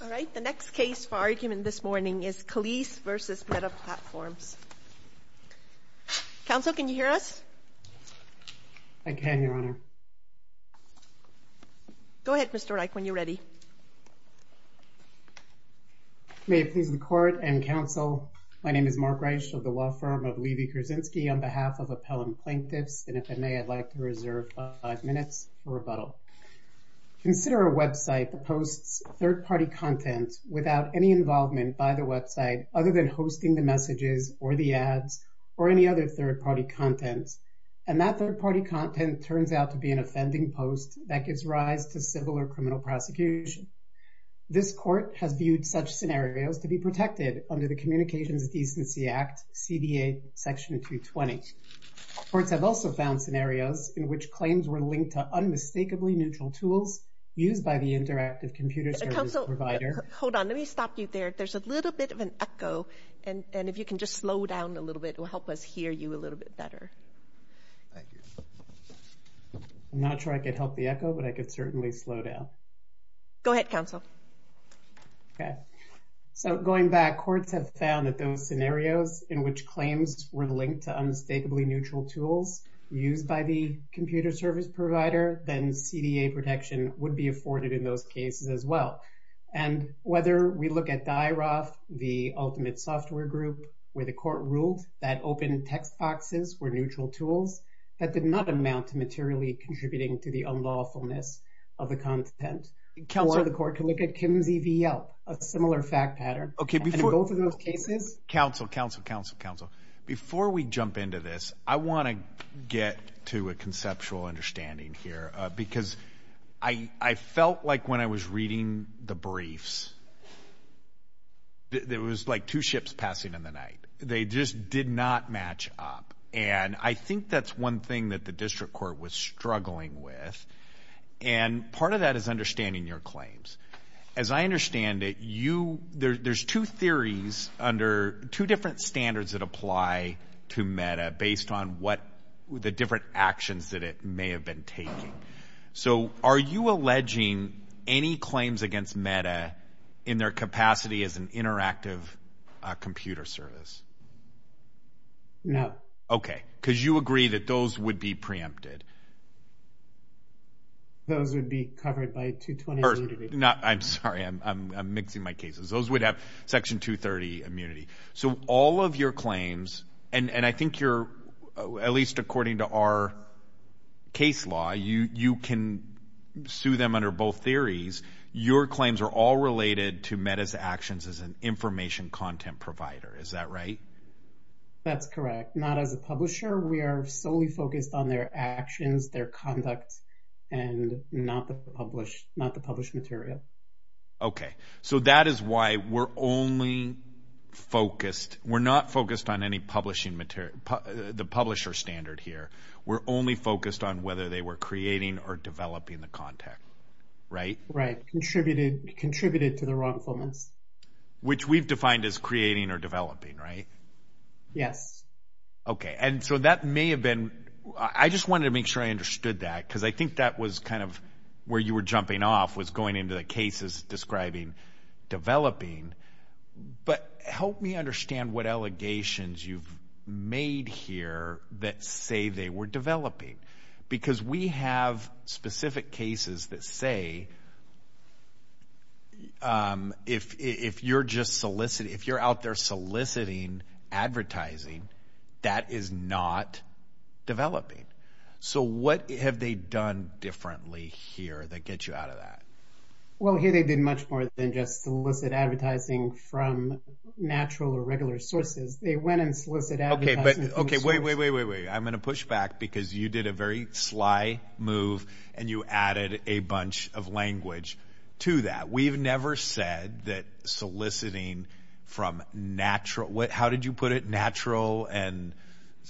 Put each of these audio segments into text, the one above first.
All right, the next case for argument this morning is Calise v. Meta Platforms. Counsel, can you hear us? I can, Your Honor. Go ahead, Mr. Reich, when you're ready. May it please the Court and Counsel, my name is Mark Reich of the law firm of Levy Krasinski on behalf of Appellant Plaintiffs, and if it may, I'd like to reserve five minutes for rebuttal. Consider a website that posts third-party content without any involvement by the website other than hosting the messages or the ads or any other third-party content, and that third-party content turns out to be an offending post that gives rise to civil or criminal prosecution. This Court has viewed such scenarios to be protected under the Communications Decency Act, CDA, Section 220. Courts have also found scenarios in which claims were linked to unmistakably neutral tools used by the interactive computer service provider. Counsel, hold on, let me stop you there. There's a little bit of an echo, and if you can just slow down a little bit, it will help us hear you a little bit better. Thank you. I'm not sure I could help the echo, but I could certainly slow down. Go ahead, Counsel. Okay. So, going back, courts have found that those scenarios in which claims were linked to unmistakably neutral tools used by the computer service provider, then CDA protection would be afforded in those cases as well. And whether we look at DIRAF, the ultimate software group, where the Court ruled that open text boxes were neutral tools, that did not amount to materially contributing to the unlawfulness of the content. Counselor, the Court can look at Kimsey v. Yelp, a similar fact pattern. Okay, before... And in both of those cases... Counsel, Counsel, Counsel, Counsel, before we jump into this, I want to get to a conceptual understanding here, because I felt like when I was reading the briefs, there was like two ships passing in the night. They just did not match up. And I think that's one thing that the District Court was struggling with. And part of that is understanding your claims. As I understand it, there's two theories under two different standards that apply to MEDA based on what the different actions that it may have been taking. So are you alleging any claims against MEDA in their capacity as an interactive computer service? No. Okay. Because you agree that those would be preempted. Those would be covered by 223. I'm sorry, I'm mixing my cases. Those would have Section 230 immunity. So all of your claims, and I think you're, at least according to our case law, you can sue them under both theories. Your claims are all related to MEDA's actions as an information content provider. Is that right? That's correct. Not as a publisher. We are solely focused on their actions, their conduct, and not the published material. Okay. So that is why we're only focused, we're not focused on any publishing material, the publisher standard here. We're only focused on whether they were creating or developing the content. Right? Right. Contributed to the wrongfulness. Which we've defined as creating or developing, right? Yes. Okay. And so that may have been, I just wanted to make sure I understood that, because I think that was kind of where you were jumping off, was going into the cases describing developing. But help me understand what allegations you've made here that say they were developing. Because we have specific cases that say, if you're just soliciting, if you're out there soliciting advertising, that is not developing. So what have they done differently here that gets you out of that? Well here they did much more than just solicit advertising from natural or regular sources. They went and solicited advertising from sources. Okay. Wait, wait, wait, wait, wait. I'm going to push back because you did a very sly move and you added a bunch of language to that. We've never said that soliciting from natural, how did you put it, natural and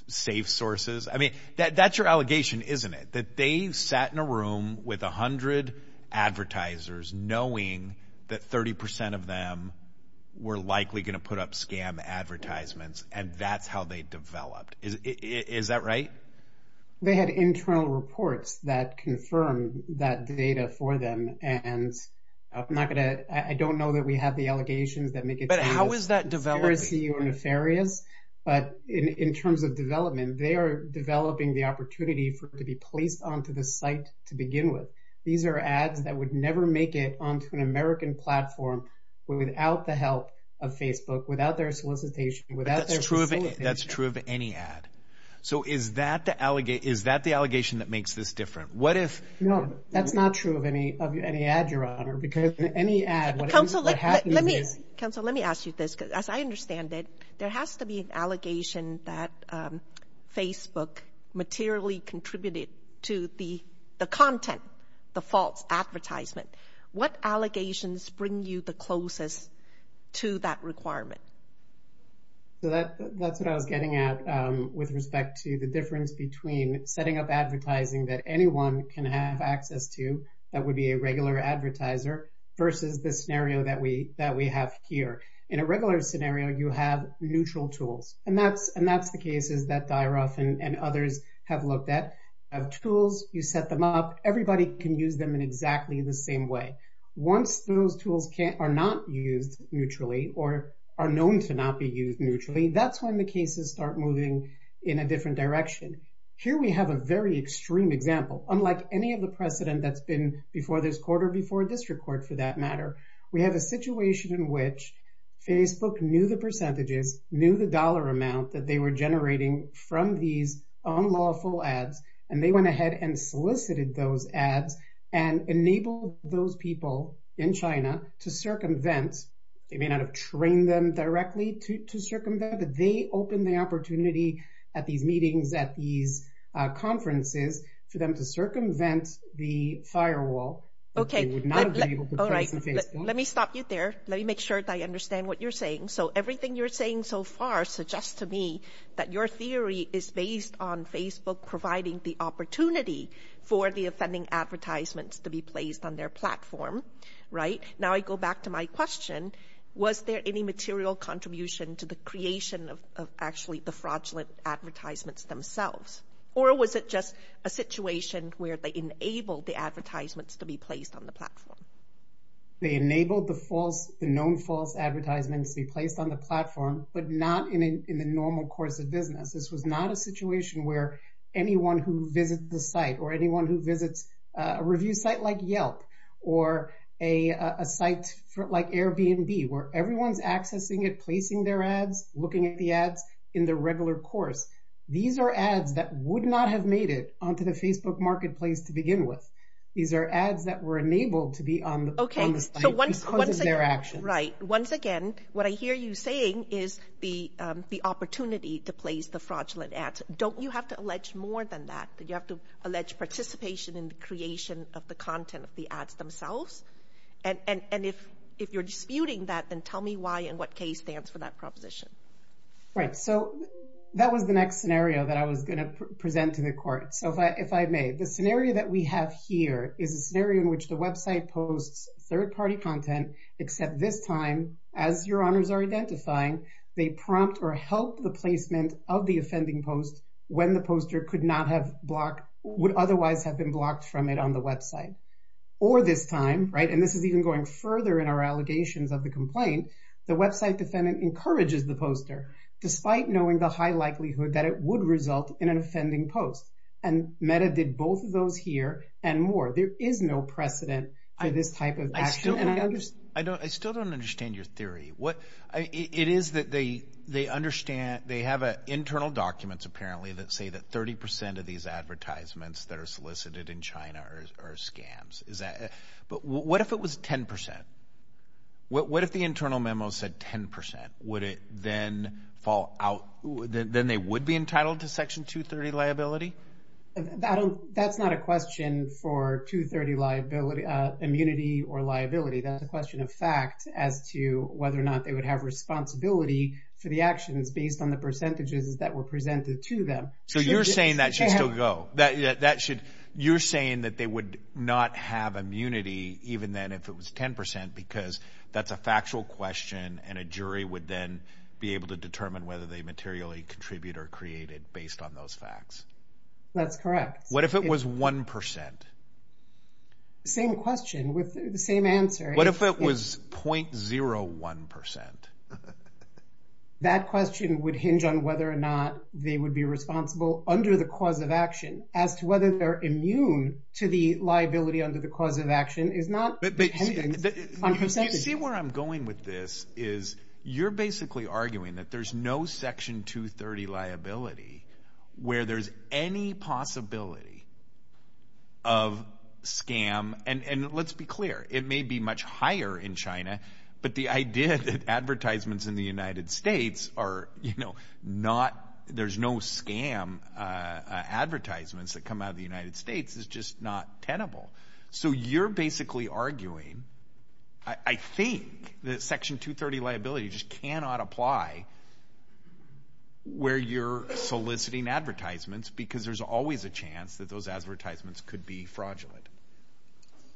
safe sources? I mean, that's your allegation, isn't it? That they sat in a room with a hundred advertisers knowing that 30% of them were likely going to put up scam advertisements and that's how they developed. Is that right? They had internal reports that confirmed that data for them and I'm not going to, I don't know that we have the allegations that make it seem as if they're nefarious, but in terms of development, they are developing the opportunity for it to be placed onto the site to begin with. These are ads that would never make it onto an American platform without the help of Facebook, without their solicitation, without their solicitation. That's true of any ad. So is that the allegation that makes this different? What if- No, that's not true of any ad, Your Honor, because any ad- Counsel, let me ask you this because as I understand it, there has to be an allegation that Facebook materially contributed to the content, the false advertisement. What allegations bring you the closest to that requirement? So that's what I was getting at with respect to the difference between setting up advertising that anyone can have access to that would be a regular advertiser versus the scenario that we have here. In a regular scenario, you have neutral tools, and that's the cases that Dyaroff and others have looked at. You have tools. You set them up. Everybody can use them in exactly the same way. Once those tools are not used neutrally or are known to not be used neutrally, that's when the cases start moving in a different direction. Here we have a very extreme example, unlike any of the precedent that's been before this We have a situation in which Facebook knew the percentages, knew the dollar amount that they were generating from these unlawful ads, and they went ahead and solicited those ads and enabled those people in China to circumvent. They may not have trained them directly to circumvent, but they opened the opportunity at these meetings, at these conferences, for them to circumvent the firewall that they would not have been able to press on Facebook. Let me stop you there. Let me make sure that I understand what you're saying. Everything you're saying so far suggests to me that your theory is based on Facebook providing the opportunity for the offending advertisements to be placed on their platform. Now I go back to my question. Was there any material contribution to the creation of actually the fraudulent advertisements themselves? Or was it just a situation where they enabled the advertisements to be placed on the platform? They enabled the false, the known false advertisements to be placed on the platform, but not in the normal course of business. This was not a situation where anyone who visited the site or anyone who visits a review site like Yelp or a site like Airbnb, where everyone's accessing it, placing their ads, looking at the ads in the regular course. These are ads that would not have made it onto the Facebook marketplace to begin with. These are ads that were enabled to be on the site because of their actions. Right. Once again, what I hear you saying is the opportunity to place the fraudulent ads. Don't you have to allege more than that, that you have to allege participation in the creation of the content of the ads themselves? And if you're disputing that, then tell me why and what case stands for that proposition. Right. So that was the next scenario that I was going to present to the court. So if I may, the scenario that we have here is a scenario in which the website posts third-party content, except this time, as your honors are identifying, they prompt or help the placement of the offending post when the poster could not have blocked, would otherwise have been posted on the website. Or this time, right, and this is even going further in our allegations of the complaint, the website defendant encourages the poster, despite knowing the high likelihood that it would result in an offending post. And Meta did both of those here and more. There is no precedent for this type of action. I still don't understand your theory. It is that they have internal documents, apparently, that say that 30% of these advertisements that are solicited in China are scams. But what if it was 10%? What if the internal memo said 10%? Would it then fall out? Then they would be entitled to Section 230 liability? That's not a question for 230 liability, immunity or liability, that's a question of fact as to whether or not they would have responsibility for the actions based on the percentages that were presented to them. So you're saying that should still go? You're saying that they would not have immunity even then if it was 10% because that's a factual question and a jury would then be able to determine whether they materially contribute or create it based on those facts? That's correct. What if it was 1%? Same question with the same answer. What if it was 0.01%? That question would hinge on whether or not they would be responsible under the cause of action as to whether they're immune to the liability under the cause of action is not dependent on percentages. You see where I'm going with this is you're basically arguing that there's no Section 230 liability where there's any possibility of scam and let's be clear, it may be much in China, but the idea that advertisements in the United States are, you know, not, there's no scam advertisements that come out of the United States is just not tenable. So you're basically arguing, I think that Section 230 liability just cannot apply where you're soliciting advertisements because there's always a chance that those advertisements could be fraudulent.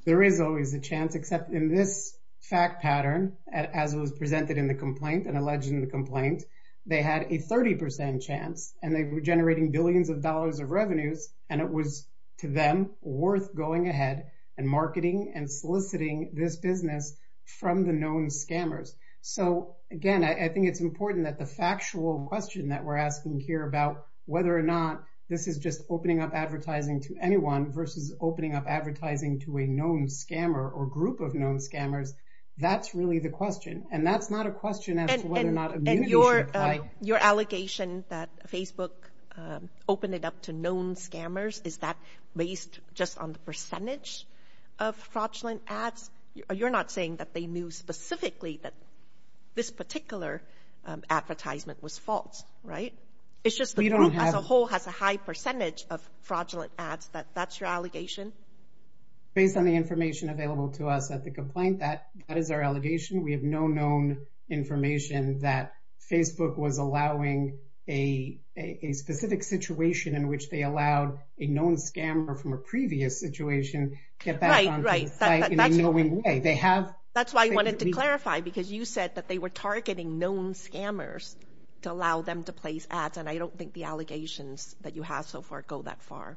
There is always a chance except in this fact pattern as it was presented in the complaint and alleged in the complaint, they had a 30% chance and they were generating billions of dollars of revenues and it was to them worth going ahead and marketing and soliciting this business from the known scammers. So again, I think it's important that the factual question that we're asking here about whether or not this is just opening up advertising to anyone versus opening up advertising to a known scammer or group of known scammers. That's really the question and that's not a question as to whether or not immunity should apply. And your allegation that Facebook opened it up to known scammers, is that based just on the percentage of fraudulent ads? You're not saying that they knew specifically that this particular advertisement was false, right? It's just the group as a whole has a high percentage of fraudulent ads, that that's your allegation? Based on the information available to us at the complaint, that is our allegation. We have no known information that Facebook was allowing a specific situation in which they allowed a known scammer from a previous situation to get back onto the site in a knowing way. That's why I wanted to clarify because you said that they were targeting known scammers to allow them to place ads and I don't think the allegations that you have so far go that far.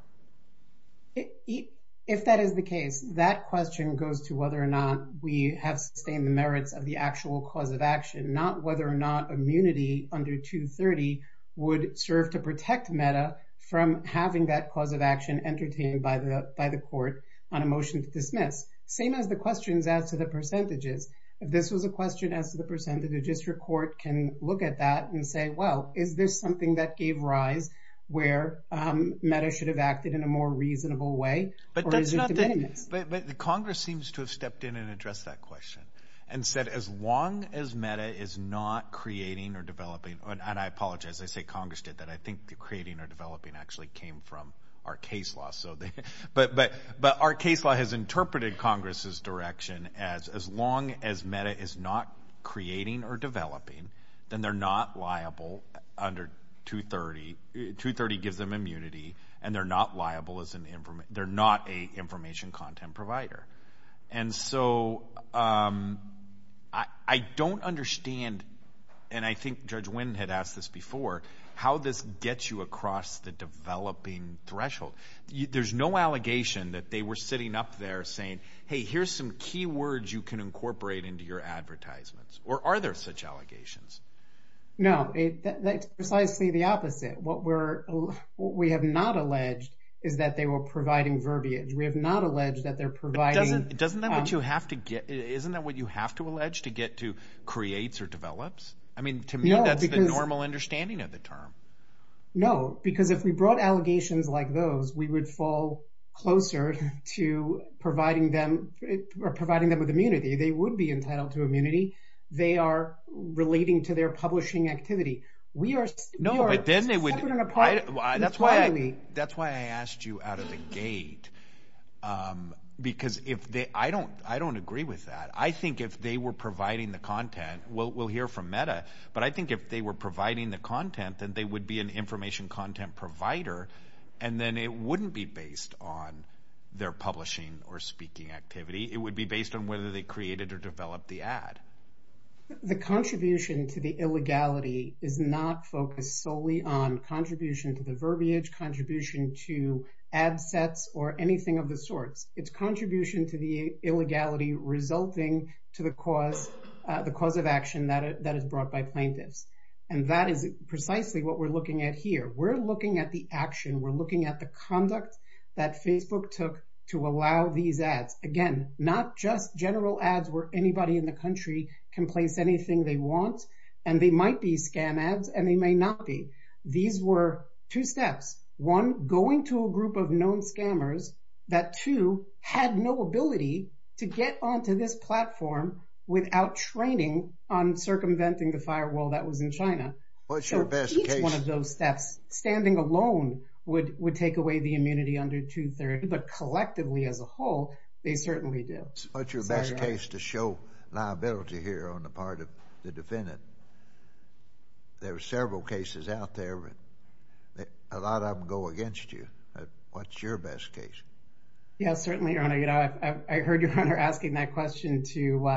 If that is the case, that question goes to whether or not we have sustained the merits of the actual cause of action. Not whether or not immunity under 230 would serve to protect MEDA from having that cause of action entertained by the court on a motion to dismiss. Same as the questions as to the percentages. If this was a question as to the percentage, the district court can look at that and say, well, is this something that gave rise where MEDA should have acted in a more reasonable way? But that's not the case. But Congress seems to have stepped in and addressed that question and said, as long as MEDA is not creating or developing, and I apologize, I say Congress did that. I think the creating or developing actually came from our case law, but our case law has said, as long as MEDA is not creating or developing, then they're not liable under 230. 230 gives them immunity and they're not a information content provider. And so I don't understand, and I think Judge Winn had asked this before, how this gets you across the developing threshold. There's no allegation that they were sitting up there saying, hey, here's some key words you can incorporate into your advertisements. Or are there such allegations? No. That's precisely the opposite. What we have not alleged is that they were providing verbiage. We have not alleged that they're providing- Doesn't that what you have to get, isn't that what you have to allege to get to creates or develops? I mean, to me, that's the normal understanding of the term. No, because if we brought allegations like those, we would fall closer to providing them with immunity. They would be entitled to immunity. They are relating to their publishing activity. We are- No, but then they would- Separate and apart. That's why I asked you out of the gate, because I don't agree with that. I think if they were providing the content, we'll hear from MEDA, but I think if they were providing the content, then they would be an information content provider, and then it wouldn't be based on their publishing or speaking activity. It would be based on whether they created or developed the ad. The contribution to the illegality is not focused solely on contribution to the verbiage, contribution to ad sets, or anything of the sorts. It's contribution to the illegality resulting to the cause of action that is brought by plaintiffs, and that is precisely what we're looking at here. We're looking at the action. We're looking at the conduct that Facebook took to allow these ads. Again, not just general ads where anybody in the country can place anything they want, and they might be scam ads, and they may not be. These were two steps, one, going to a group of known scammers that, two, had no ability to get onto this platform without training on circumventing the firewall that was in China. What's your best case? One of those steps, standing alone, would take away the immunity under 230, but collectively as a whole, they certainly do. What's your best case to show liability here on the part of the defendant? There are several cases out there, but a lot of them go against you. What's your best case? Yes, certainly, Your Honor. You know, I heard Your Honor asking that question to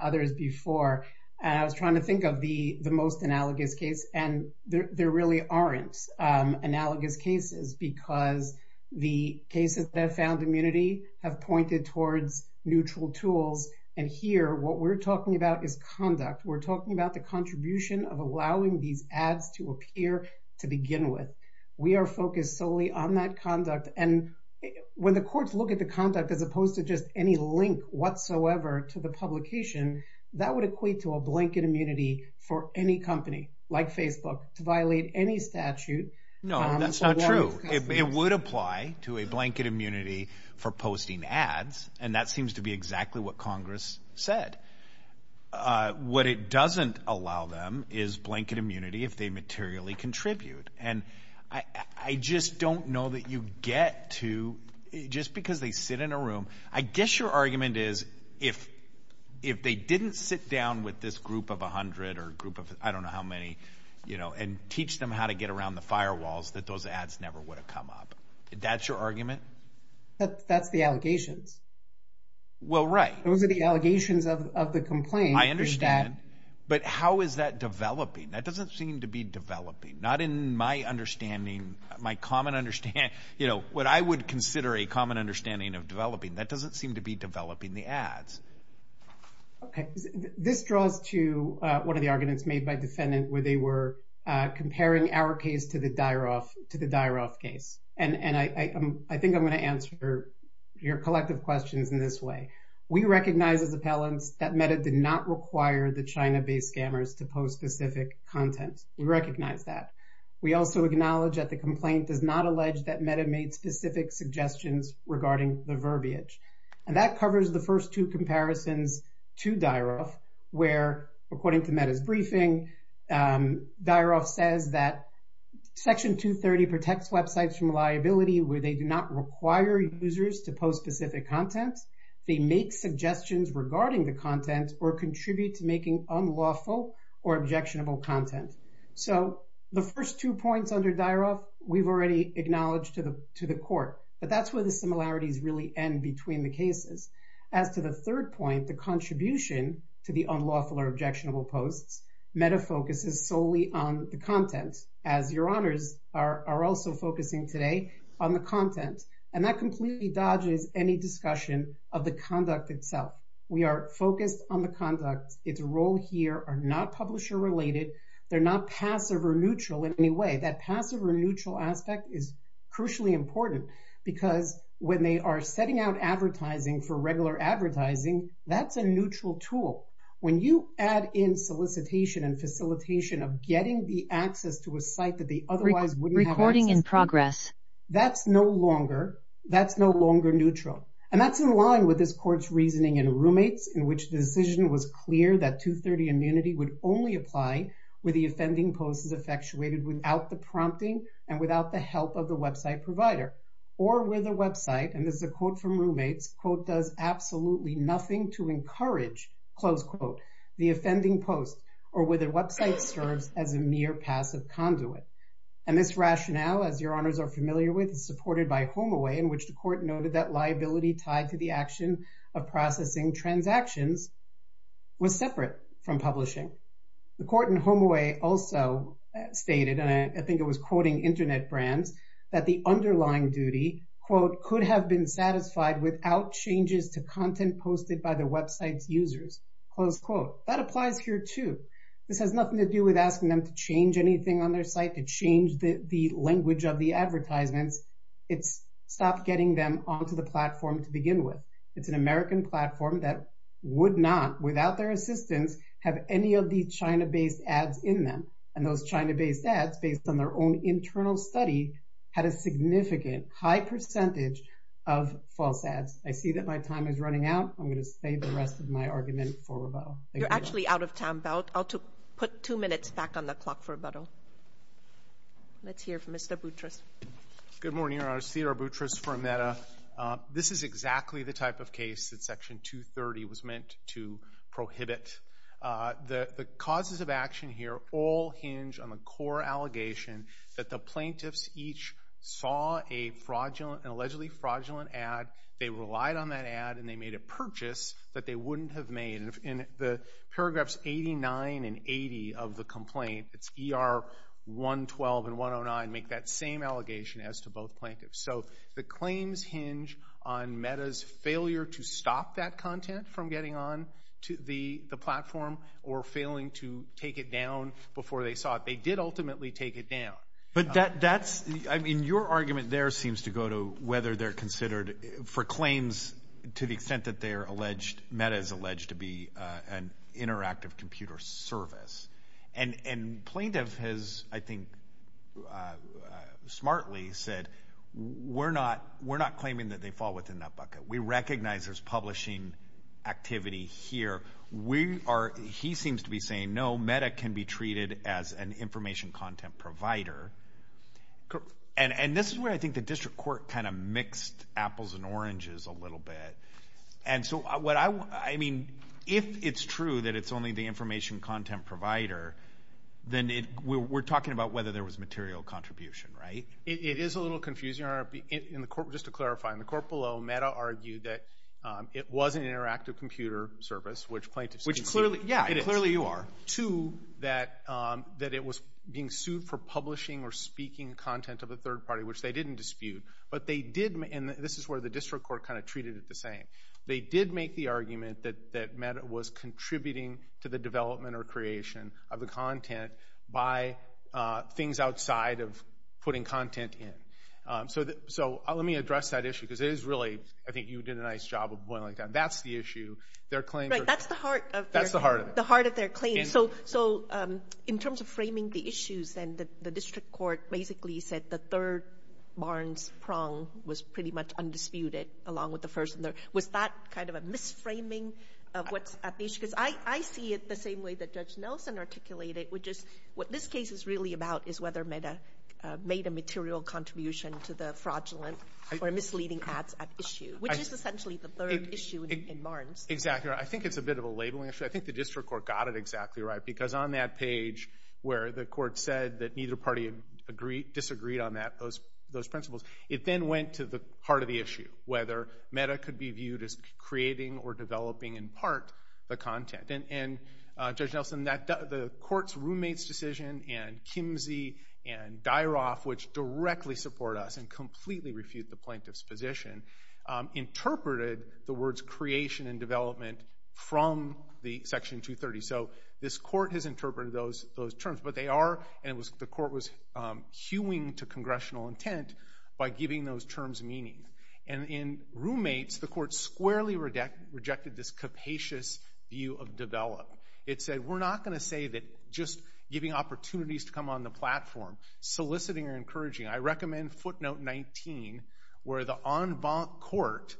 others before, and I was trying to think of the most analogous case, and there really aren't analogous cases because the cases that have found immunity have pointed towards neutral tools, and here, what we're talking about is conduct. We're talking about the contribution of allowing these ads to appear to begin with. We are focused solely on that conduct, and when the courts look at the conduct as opposed to just any link whatsoever to the publication, that would equate to a blanket immunity for any company, like Facebook, to violate any statute. No, that's not true. It would apply to a blanket immunity for posting ads, and that seems to be exactly what Congress said. What it doesn't allow them is blanket immunity if they materially contribute, and I just don't know that you get to, just because they sit in a room, I guess your argument is if they didn't sit down with this group of 100 or a group of I don't know how many, you know, and teach them how to get around the firewalls, that those ads never would have come up. That's your argument? That's the allegations. Well, right. Those are the allegations of the complaint. I understand, but how is that developing? That doesn't seem to be developing. Not in my understanding, my common understanding, you know, what I would consider a common understanding of developing. That doesn't seem to be developing the ads. Okay. This draws to one of the arguments made by defendant where they were comparing our case to the Dyaroff case, and I think I'm going to answer your collective questions in this way. We recognize as appellants that META did not require the China-based scammers to post specific content. We recognize that. We also acknowledge that the complaint does not allege that META made specific suggestions regarding the verbiage, and that covers the first two comparisons to Dyaroff where, according to META's briefing, Dyaroff says that Section 230 protects websites from liability where they do not require users to post specific content, they make suggestions regarding the content. So, the first two points under Dyaroff, we've already acknowledged to the court, but that's where the similarities really end between the cases. As to the third point, the contribution to the unlawful or objectionable posts, META focuses solely on the content, as your honors are also focusing today on the content, and that completely dodges any discussion of the conduct itself. We are focused on the conduct. Its role here are not publisher-related. They're not passive or neutral in any way. That passive or neutral aspect is crucially important because when they are setting out advertising for regular advertising, that's a neutral tool. When you add in solicitation and facilitation of getting the access to a site that they otherwise wouldn't have access to, that's no longer neutral, and that's in line with this court's reasoning in roommates, in which the decision was clear that 230 immunity would only apply where the offending post is effectuated without the prompting and without the help of the website provider, or where the website, and this is a quote from roommates, quote, does absolutely nothing to encourage, close quote, the offending post, or where the website serves as a mere passive conduit. And this rationale, as your honors are familiar with, is supported by HomeAway, in which the decision of processing transactions was separate from publishing. The court in HomeAway also stated, and I think it was quoting internet brands, that the underlying duty, quote, could have been satisfied without changes to content posted by the website's users, close quote. That applies here, too. This has nothing to do with asking them to change anything on their site, to change the language of the advertisements. It's stop getting them onto the platform to begin with. It's an American platform that would not, without their assistance, have any of these China-based ads in them. And those China-based ads, based on their own internal study, had a significant, high percentage of false ads. I see that my time is running out. I'm going to save the rest of my argument for rebuttal. Thank you. You're actually out of time. I'll put two minutes back on the clock for rebuttal. Let's hear from Mr. Boutros. Good morning, your honors. Theodore Boutros for EMETA. This is exactly the type of case that Section 230 was meant to prohibit. The causes of action here all hinge on the core allegation that the plaintiffs each saw a fraudulent, an allegedly fraudulent ad, they relied on that ad, and they made a purchase that they wouldn't have made. In the paragraphs 89 and 80 of the complaint, it's ER 112 and 109, make that same allegation as to both plaintiffs. So the claims hinge on META's failure to stop that content from getting on to the platform or failing to take it down before they saw it. They did ultimately take it down. But that's, I mean, your argument there seems to go to whether they're considered, for claims, to the extent that they are alleged, META is alleged to be an interactive computer service. And plaintiff has, I think, smartly said, we're not claiming that they fall within that bucket. We recognize there's publishing activity here. He seems to be saying, no, META can be treated as an information content provider. And this is where I think the district court kind of mixed apples and oranges a little bit. And so, I mean, if it's true that it's only the information content provider, then we're talking about whether there was material contribution, right? It is a little confusing. Just to clarify, in the court below, META argued that it was an interactive computer service, which plaintiffs didn't see. Which clearly, yeah, it is. Clearly you are. To that it was being sued for publishing or speaking content of a third party, which they didn't dispute. But they did, and this is where the district court kind of treated it the same, they did make the argument that META was contributing to the development or creation of the content by things outside of putting content in. So let me address that issue, because it is really, I think you did a nice job of boiling it down. That's the issue. Their claims are- Right, that's the heart of it. That's the heart of it. The heart of their claim. Okay. So in terms of framing the issues, then the district court basically said the third Barnes prong was pretty much undisputed, along with the first. Was that kind of a misframing of what's at issue? Because I see it the same way that Judge Nelson articulated it, which is what this case is really about is whether META made a material contribution to the fraudulent or misleading ads at issue, which is essentially the third issue in Barnes. Exactly. I think it's a bit of a labeling issue. I think the district court got it exactly right, because on that page where the court said that neither party disagreed on those principles, it then went to the heart of the issue, whether META could be viewed as creating or developing in part the content. And Judge Nelson, the court's roommate's decision and Kimsey and Dyroff, which directly support us and completely refute the plaintiff's position, interpreted the words creation and development from the Section 230. So this court has interpreted those terms, but they are, and the court was hewing to congressional intent by giving those terms meaning. And in roommates, the court squarely rejected this capacious view of develop. It said we're not going to say that just giving opportunities to come on the platform, soliciting or encouraging. I recommend footnote 19, where the en banc court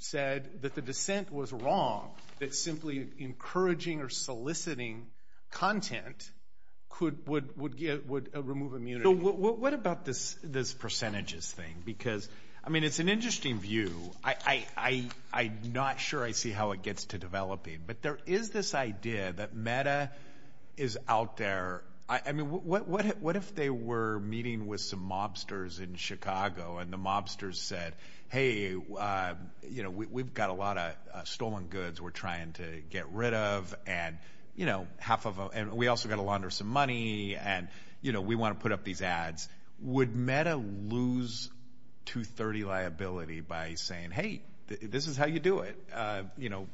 said that the dissent was wrong, that simply encouraging or soliciting content would remove immunity. What about this percentages thing? Because I mean, it's an interesting view. I'm not sure I see how it gets to developing, but there is this idea that META is out there. I mean, what if they were meeting with some mobsters in Chicago and the mobsters said, hey, you know, we've got a lot of stolen goods we're trying to get rid of and, you know, half of them, and we also got to launder some money and, you know, we want to put up these ads. Would META lose 230 liability by saying, hey, this is how you do it. You know,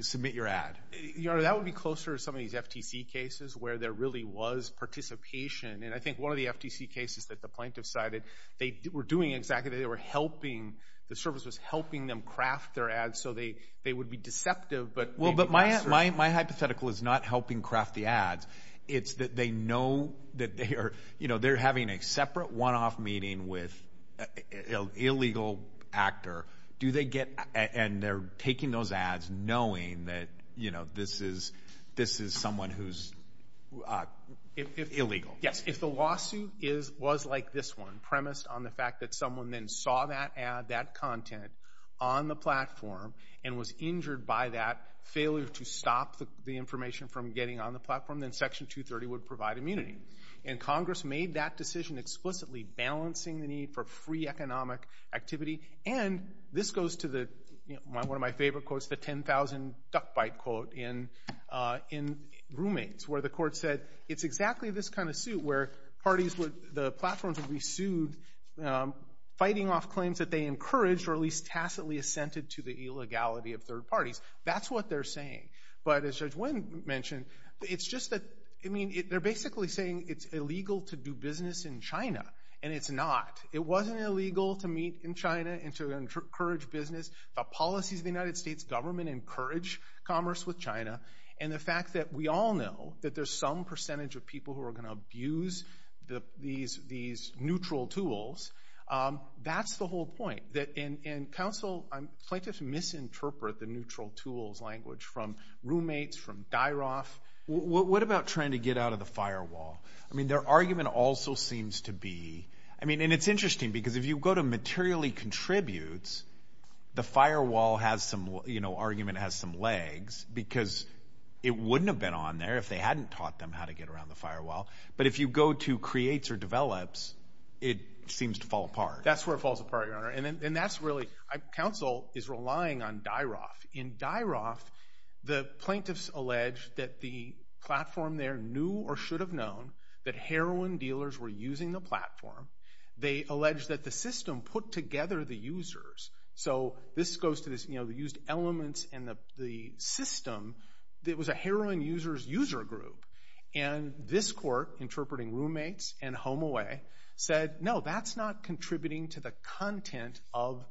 submit your ad. Your Honor, that would be closer to some of these FTC cases where there really was participation. And I think one of the FTC cases that the plaintiff cited, they were doing exactly that. They were helping, the service was helping them craft their ads, so they would be deceptive, but they'd be mobsters. Well, but my hypothetical is not helping craft the ads. It's that they know that they are, you know, they're having a separate one-off meeting with an illegal actor. Do they get, and they're taking those ads knowing that, you know, this is someone who's illegal. Yes. If the lawsuit was like this one, premised on the fact that someone then saw that ad, that content on the platform and was injured by that failure to stop the information from getting on the platform, then Section 230 would provide immunity. And Congress made that decision explicitly balancing the need for free economic activity. And this goes to the, you know, one of my favorite quotes, the 10,000 duck bite quote in roommates, where the court said, it's exactly this kind of suit where parties would, the platforms would be sued fighting off claims that they encouraged or at least tacitly assented to the illegality of third parties. That's what they're saying. But as Judge Nguyen mentioned, it's just that, I mean, they're basically saying it's illegal to do business in China, and it's not. It wasn't illegal to meet in China and to encourage business. The policies of the United States government encourage commerce with China, and the fact that we all know that there's some percentage of people who are going to abuse these neutral tools, that's the whole point. And counsel, plaintiffs misinterpret the neutral tools language from roommates, from Dyroff. What about trying to get out of the firewall? I mean, their argument also seems to be, I mean, and it's interesting because if you go to materially contributes, the firewall has some, you know, argument has some legs because it wouldn't have been on there if they hadn't taught them how to get around the firewall. But if you go to creates or develops, it seems to fall apart. That's where it falls apart, Your Honor. And that's really, counsel is relying on Dyroff. In Dyroff, the plaintiffs allege that the platform there knew or should have known that heroin dealers were using the platform. They allege that the system put together the users. So this goes to this, you know, the used elements and the system, it was a heroin users user group. And this court interpreting roommates and HomeAway said, no, that's not contributing to the content of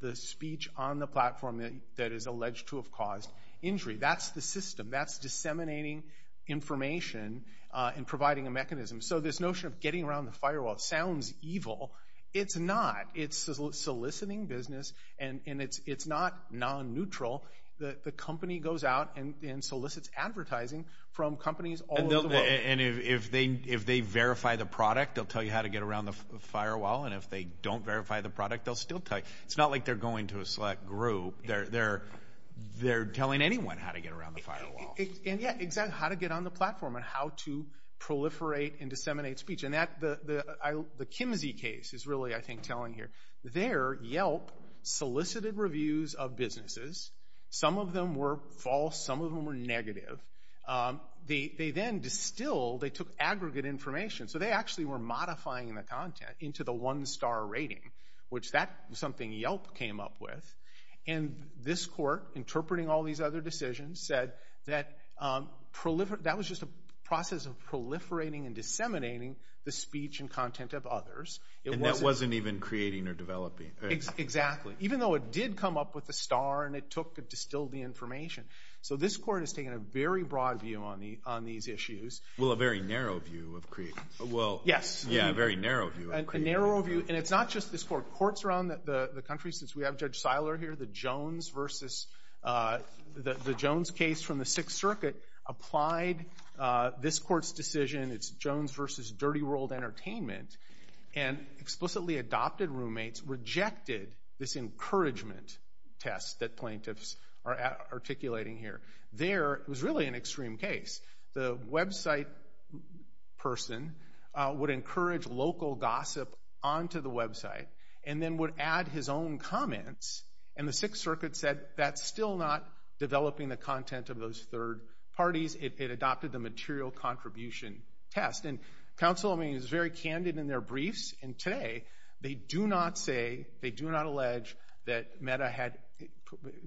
the speech on the platform that is alleged to have caused injury. That's the system. That's disseminating information and providing a mechanism. So this notion of getting around the firewall sounds evil. It's not. It's soliciting business and it's not non-neutral. The company goes out and solicits advertising from companies all over the world. And if they verify the product, they'll tell you how to get around the firewall. And if they don't verify the product, they'll still tell you. It's not like they're going to a select group. They're telling anyone how to get around the firewall. And yeah, exactly. How to get on the platform and how to proliferate and disseminate speech. And the Kimsey case is really, I think, telling here. There Yelp solicited reviews of businesses. Some of them were false. Some of them were negative. They then distilled, they took aggregate information. So they actually were modifying the content into the one star rating, which that was something Yelp came up with. And this court interpreting all these other decisions said that that was just a process of proliferating and disseminating the speech and content of others. And that wasn't even creating or developing. Exactly. Even though it did come up with a star and it took and distilled the information. So this court has taken a very broad view on these issues. Well, a very narrow view of creating. Yes. Yeah, a very narrow view of creating. A narrow view. And it's not just this court. Courts around the country, since we have Judge Seiler here, the Jones case from the Sixth It's the Jones decision. It's Jones versus Dirty World Entertainment. And explicitly adopted roommates rejected this encouragement test that plaintiffs are articulating here. There it was really an extreme case. The website person would encourage local gossip onto the website and then would add his own comments. And the Sixth Circuit said that's still not developing the content of those third parties. It adopted the material contribution test. And counsel is very candid in their briefs. And today, they do not say, they do not allege that Meta had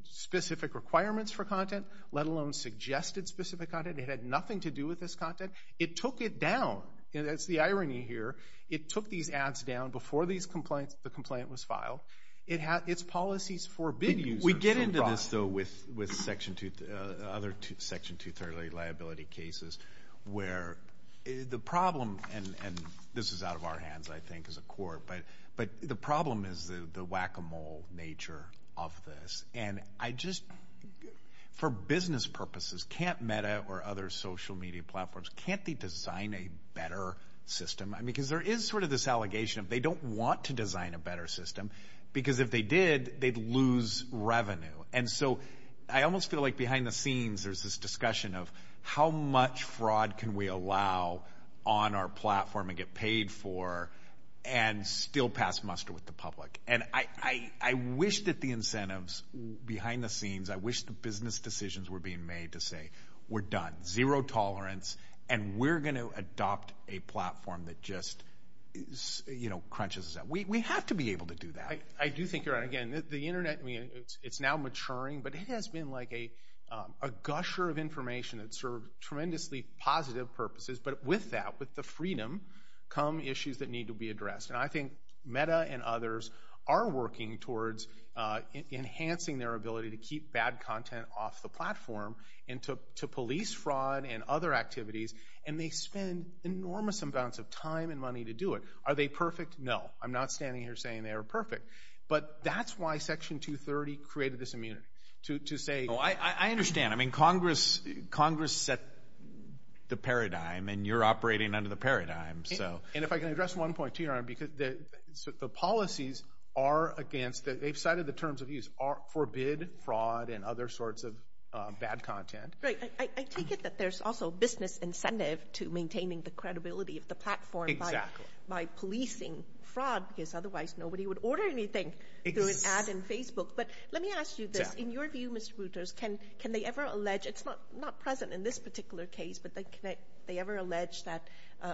specific requirements for content, let alone suggested specific content. It had nothing to do with this content. It took it down. And that's the irony here. It took these ads down before the complaint was filed. Its policies forbid users from broadcasting. Almost though, with other Section 230 liability cases, where the problem, and this is out of our hands, I think, as a court, but the problem is the whack-a-mole nature of this. And I just, for business purposes, can't Meta or other social media platforms, can't they design a better system? Because there is sort of this allegation of they don't want to design a better system. Because if they did, they'd lose revenue. And so, I almost feel like behind the scenes, there's this discussion of how much fraud can we allow on our platform and get paid for, and still pass muster with the public. And I wish that the incentives, behind the scenes, I wish the business decisions were being made to say, we're done. Zero tolerance. And we're going to adopt a platform that just crunches us out. We have to be able to do that. I do think you're right. Again, the internet, it's now maturing, but it has been like a gusher of information that served tremendously positive purposes. But with that, with the freedom, come issues that need to be addressed. And I think Meta and others are working towards enhancing their ability to keep bad content off the platform, and to police fraud and other activities. And they spend enormous amounts of time and money to do it. Are they perfect? No. I'm not standing here saying they are perfect. But that's why Section 230 created this immunity. To say- I understand. I mean, Congress set the paradigm, and you're operating under the paradigm. And if I can address one point to you, Your Honor, because the policies are against, they've cited the terms of use, forbid fraud and other sorts of bad content. Right. I take it that there's also business incentive to maintaining the credibility of the platform by policing fraud, because otherwise nobody would order anything through an ad in Facebook. But let me ask you this, in your view, Mr. Brutus, can they ever allege, it's not present in this particular case, but they ever allege that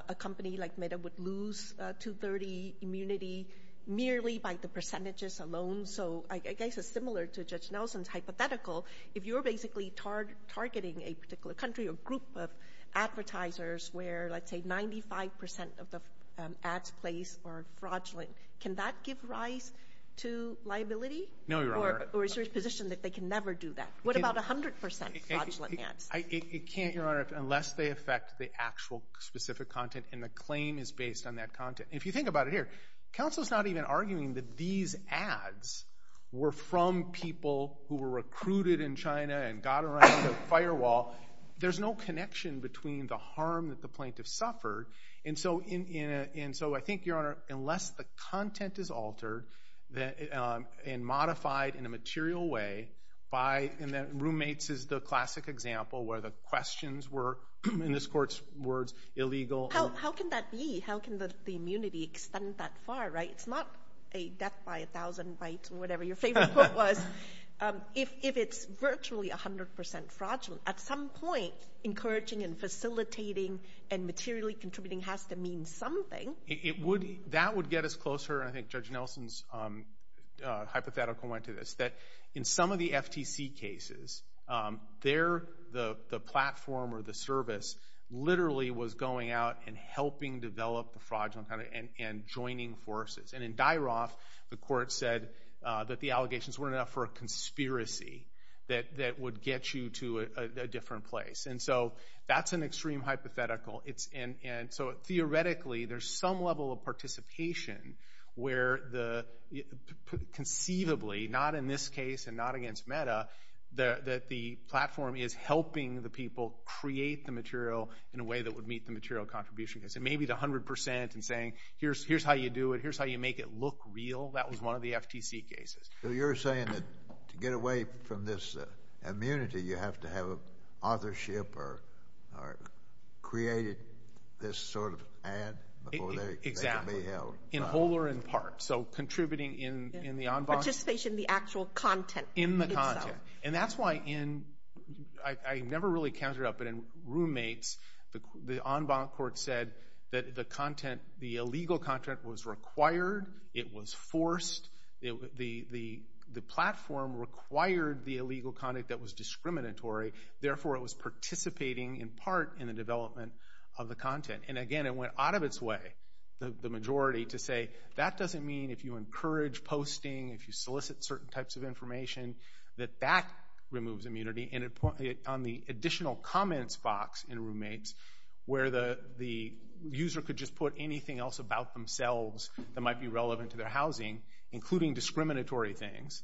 a company like Meta would lose 230 immunity merely by the percentages alone? So I guess it's similar to Judge Nelson's hypothetical. If you're basically targeting a particular country or group of advertisers where, let's say, 5% of the ads placed are fraudulent, can that give rise to liability? No, Your Honor. Or is there a position that they can never do that? What about 100% fraudulent ads? It can't, Your Honor, unless they affect the actual specific content and the claim is based on that content. If you think about it here, counsel's not even arguing that these ads were from people who were recruited in China and got around the firewall. There's no connection between the harm that the plaintiff suffered, and so I think, Your Honor, unless the content is altered and modified in a material way by, and roommates is the classic example where the questions were, in this court's words, illegal. How can that be? How can the immunity extend that far, right? It's not a death by a thousand bites or whatever your favorite quote was. If it's virtually 100% fraudulent, at some point, encouraging and facilitating and materially contributing has to mean something. That would get us closer, and I think Judge Nelson's hypothetical went to this, that in some of the FTC cases, the platform or the service literally was going out and helping develop the fraudulent content and joining forces. In Dyroff, the court said that the allegations weren't enough for a conspiracy that would get you to a different place. That's an extreme hypothetical, and so theoretically, there's some level of participation where conceivably, not in this case and not against Meta, that the platform is helping the people create the material in a way that would meet the material contribution. It may be the 100% and saying, here's how you do it, here's how you make it look real. That was one of the FTC cases. So you're saying that to get away from this immunity, you have to have authorship or created this sort of ad before they can be held? Exactly. In whole or in part. So contributing in the en banc. Participation in the actual content. In the content. That's why in, I never really counted up, but in roommates, the en banc court said that the illegal content was required, it was forced, the platform required the illegal content that was discriminatory, therefore it was participating in part in the development of the content. Again, it went out of its way, the majority, to say that doesn't mean if you encourage posting, if you solicit certain types of information, that that removes immunity. On the additional comments box in roommates, where the user could just put anything else about themselves that might be relevant to their housing, including discriminatory things,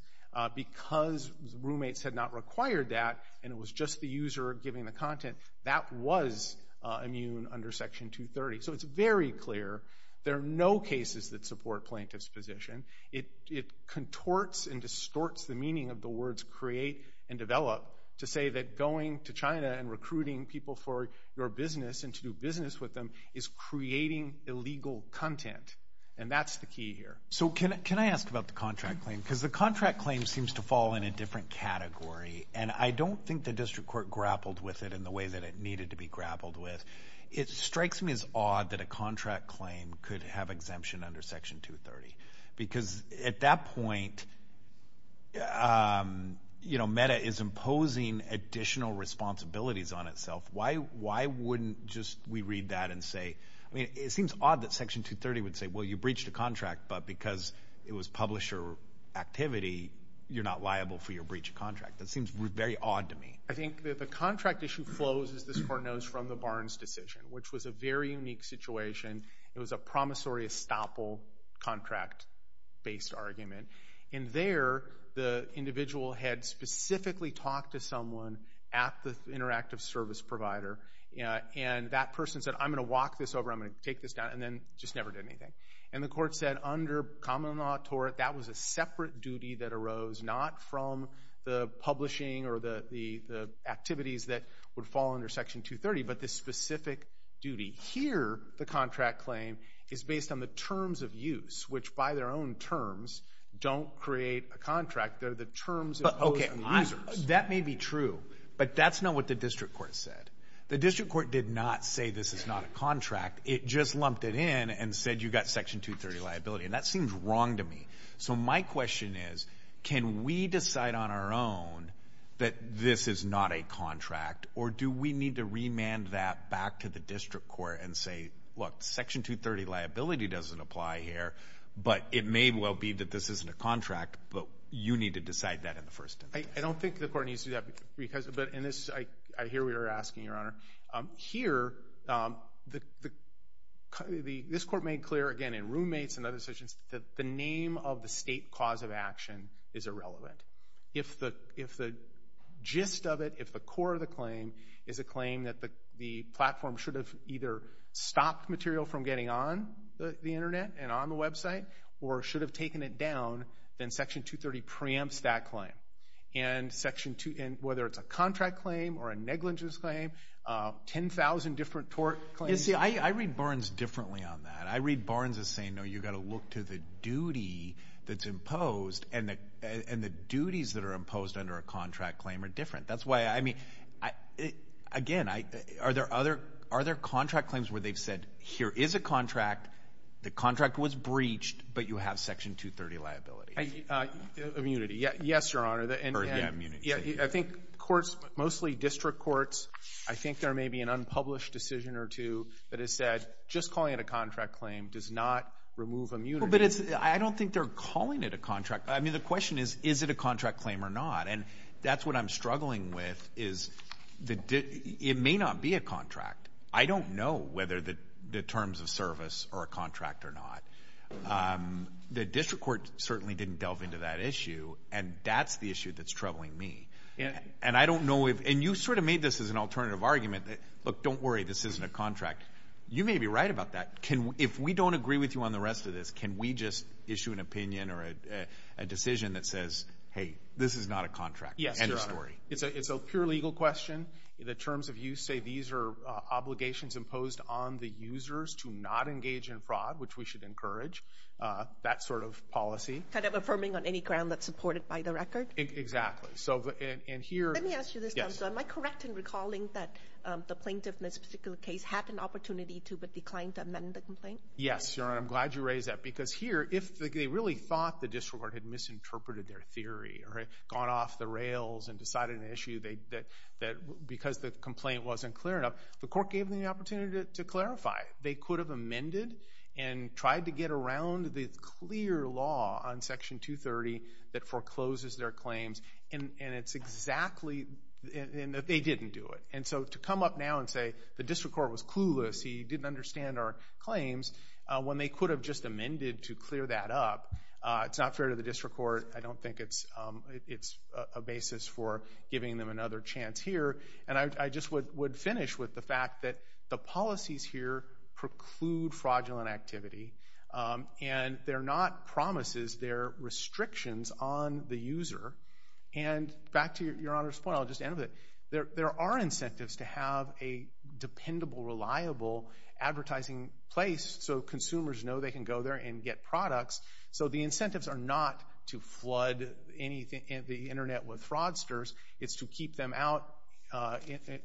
because roommates had not required that and it was just the user giving the content, that was immune under section 230. So it's very clear, there are no cases that support plaintiff's position. It contorts and distorts the meaning of the words create and develop to say that going to China and recruiting people for your business and to do business with them is creating illegal content. And that's the key here. So can I ask about the contract claim? Because the contract claim seems to fall in a different category and I don't think the district court grappled with it in the way that it needed to be grappled with. It strikes me as odd that a contract claim could have exemption under section 230. Because at that point, you know, META is imposing additional responsibilities on itself. Why wouldn't just we read that and say, I mean, it seems odd that section 230 would say, well, you breached a contract, but because it was publisher activity, you're not liable for your breach of contract. That seems very odd to me. I think that the contract issue flows, as this court knows, from the Barnes decision, which was a very unique situation. It was a promissory estoppel contract-based argument. And there, the individual had specifically talked to someone at the interactive service provider. And that person said, I'm going to walk this over, I'm going to take this down, and then just never did anything. And the court said under common law tort, that was a separate duty that arose, not from the publishing or the activities that would fall under section 230, but this specific duty. Here, the contract claim is based on the terms of use, which by their own terms, don't create a contract. They're the terms imposed on the users. That may be true. But that's not what the district court said. The district court did not say this is not a contract. It just lumped it in and said you got section 230 liability. And that seems wrong to me. So my question is, can we decide on our own that this is not a contract? Or do we need to remand that back to the district court and say, look, section 230 liability doesn't apply here, but it may well be that this isn't a contract, but you need to decide that in the first instance. I don't think the court needs to do that because, but in this, I hear what you're asking, Your Honor. Here, this court made clear, again, in roommates and other sections, that the name of the state cause of action is irrelevant. If the gist of it, if the core of the claim is a claim that the platform should have either stopped material from getting on the Internet and on the website or should have taken it down, then section 230 preempts that claim. And section, whether it's a contract claim or a negligence claim, 10,000 different tort claims. You see, I read Barnes differently on that. I read Barnes as saying, no, you've got to look to the duty that's imposed, and the duties that are imposed under a contract claim are different. That's why, I mean, again, are there contract claims where they've said, here is a contract, the contract was breached, but you have section 230 liability? Immunity. Immunity. Yes, Your Honor. Yeah, immunity. Yeah, I think courts, mostly district courts, I think there may be an unpublished decision or two that has said, just calling it a contract claim does not remove immunity. Well, but it's, I don't think they're calling it a contract. I mean, the question is, is it a contract claim or not? And that's what I'm struggling with is, it may not be a contract. I don't know whether the terms of service are a contract or not. The district court certainly didn't delve into that issue, and that's the issue that's troubling me. And I don't know if, and you sort of made this as an alternative argument that, look, don't worry, this isn't a contract. You may be right about that. If we don't agree with you on the rest of this, can we just issue an opinion or a decision that says, hey, this is not a contract? Yes, Your Honor. End of story. It's a pure legal question. The terms of use say these are obligations imposed on the users to not engage in fraud, which we should encourage. That sort of policy. Kind of affirming on any ground that's supported by the record? Exactly. So, and here... Let me ask you this, counsel. Yes. Am I correct in recalling that the plaintiff in this particular case had an opportunity to but declined to amend the complaint? Yes, Your Honor. I'm glad you raised that because here, if they really thought the district court had misinterpreted their theory or had gone off the rails and decided an issue that, because the complaint wasn't clear enough, the court gave them the opportunity to clarify. They could have amended and tried to get around the clear law on Section 230 that forecloses their claims, and it's exactly... They didn't do it. And so, to come up now and say the district court was clueless, he didn't understand our claims, when they could have just amended to clear that up, it's not fair to the district court. I don't think it's a basis for giving them another chance here. And I just would finish with the fact that the policies here preclude fraudulent activity, and they're not promises. They're restrictions on the user. And back to Your Honor's point, I'll just end with it. There are incentives to have a dependable, reliable advertising place so consumers know they can go there and get products. So the incentives are not to flood the Internet with fraudsters. It's to keep them out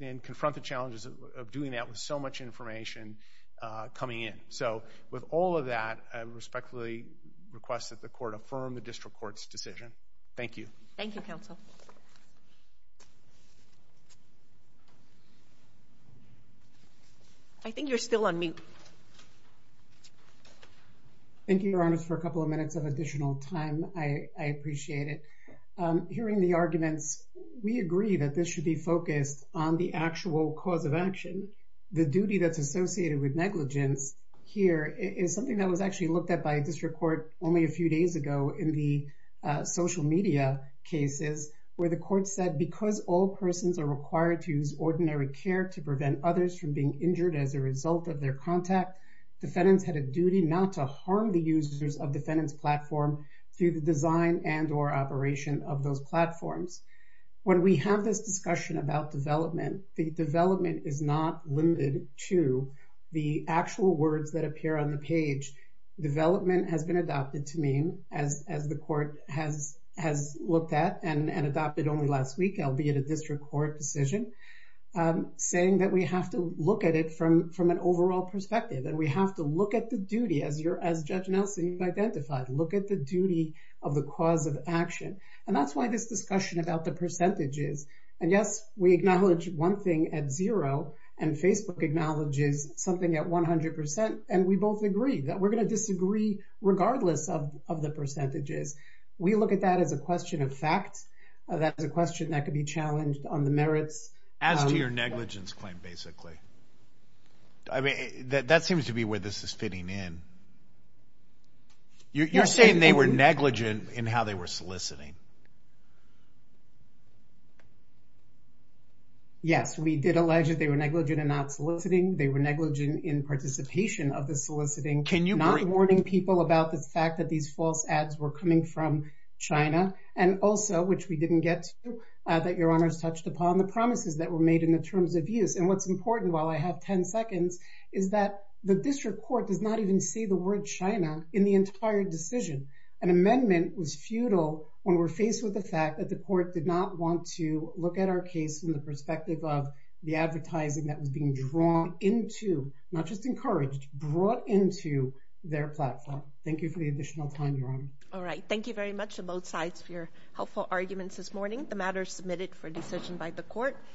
and confront the challenges of doing that with so much information coming in. So, with all of that, I respectfully request that the court affirm the district court's decision. Thank you. Thank you, counsel. I think you're still on mute. Thank you, Your Honors, for a couple of minutes of additional time. I appreciate it. Hearing the arguments, we agree that this should be focused on the actual cause of action. The duty that's associated with negligence here is something that was actually looked at by district court only a few days ago in the social media cases, where the court said, because all persons are required to use ordinary care to prevent others from being injured as a result of their contact, defendants had a duty not to harm the users of defendant's of those platforms. When we have this discussion about development, the development is not limited to the actual words that appear on the page. Development has been adopted to mean, as the court has looked at and adopted only last week, albeit a district court decision, saying that we have to look at it from an overall perspective and we have to look at the duty as Judge Nelson identified, look at the duty of the cause of action. That's why this discussion about the percentages, and yes, we acknowledge one thing at zero and Facebook acknowledges something at 100% and we both agree that we're going to disagree regardless of the percentages. We look at that as a question of fact, that's a question that could be challenged on the merits. As to your negligence claim, basically. That seems to be where this is fitting in. You're saying they were negligent in how they were soliciting. Yes, we did allege that they were negligent and not soliciting. They were negligent in participation of the soliciting, not warning people about the fact that these false ads were coming from China and also, which we didn't get to, that your honors touched upon the promises that were made in the terms of use and what's important while I have 10 seconds is that the district court does not even say the word China in the entire decision. An amendment was futile when we're faced with the fact that the court did not want to look at our case from the perspective of the advertising that was being drawn into, not just encouraged, brought into their platform. Thank you for the additional time, Your Honor. All right. Thank you very much to both sides for your helpful arguments this morning. The matter is submitted for decision by the court.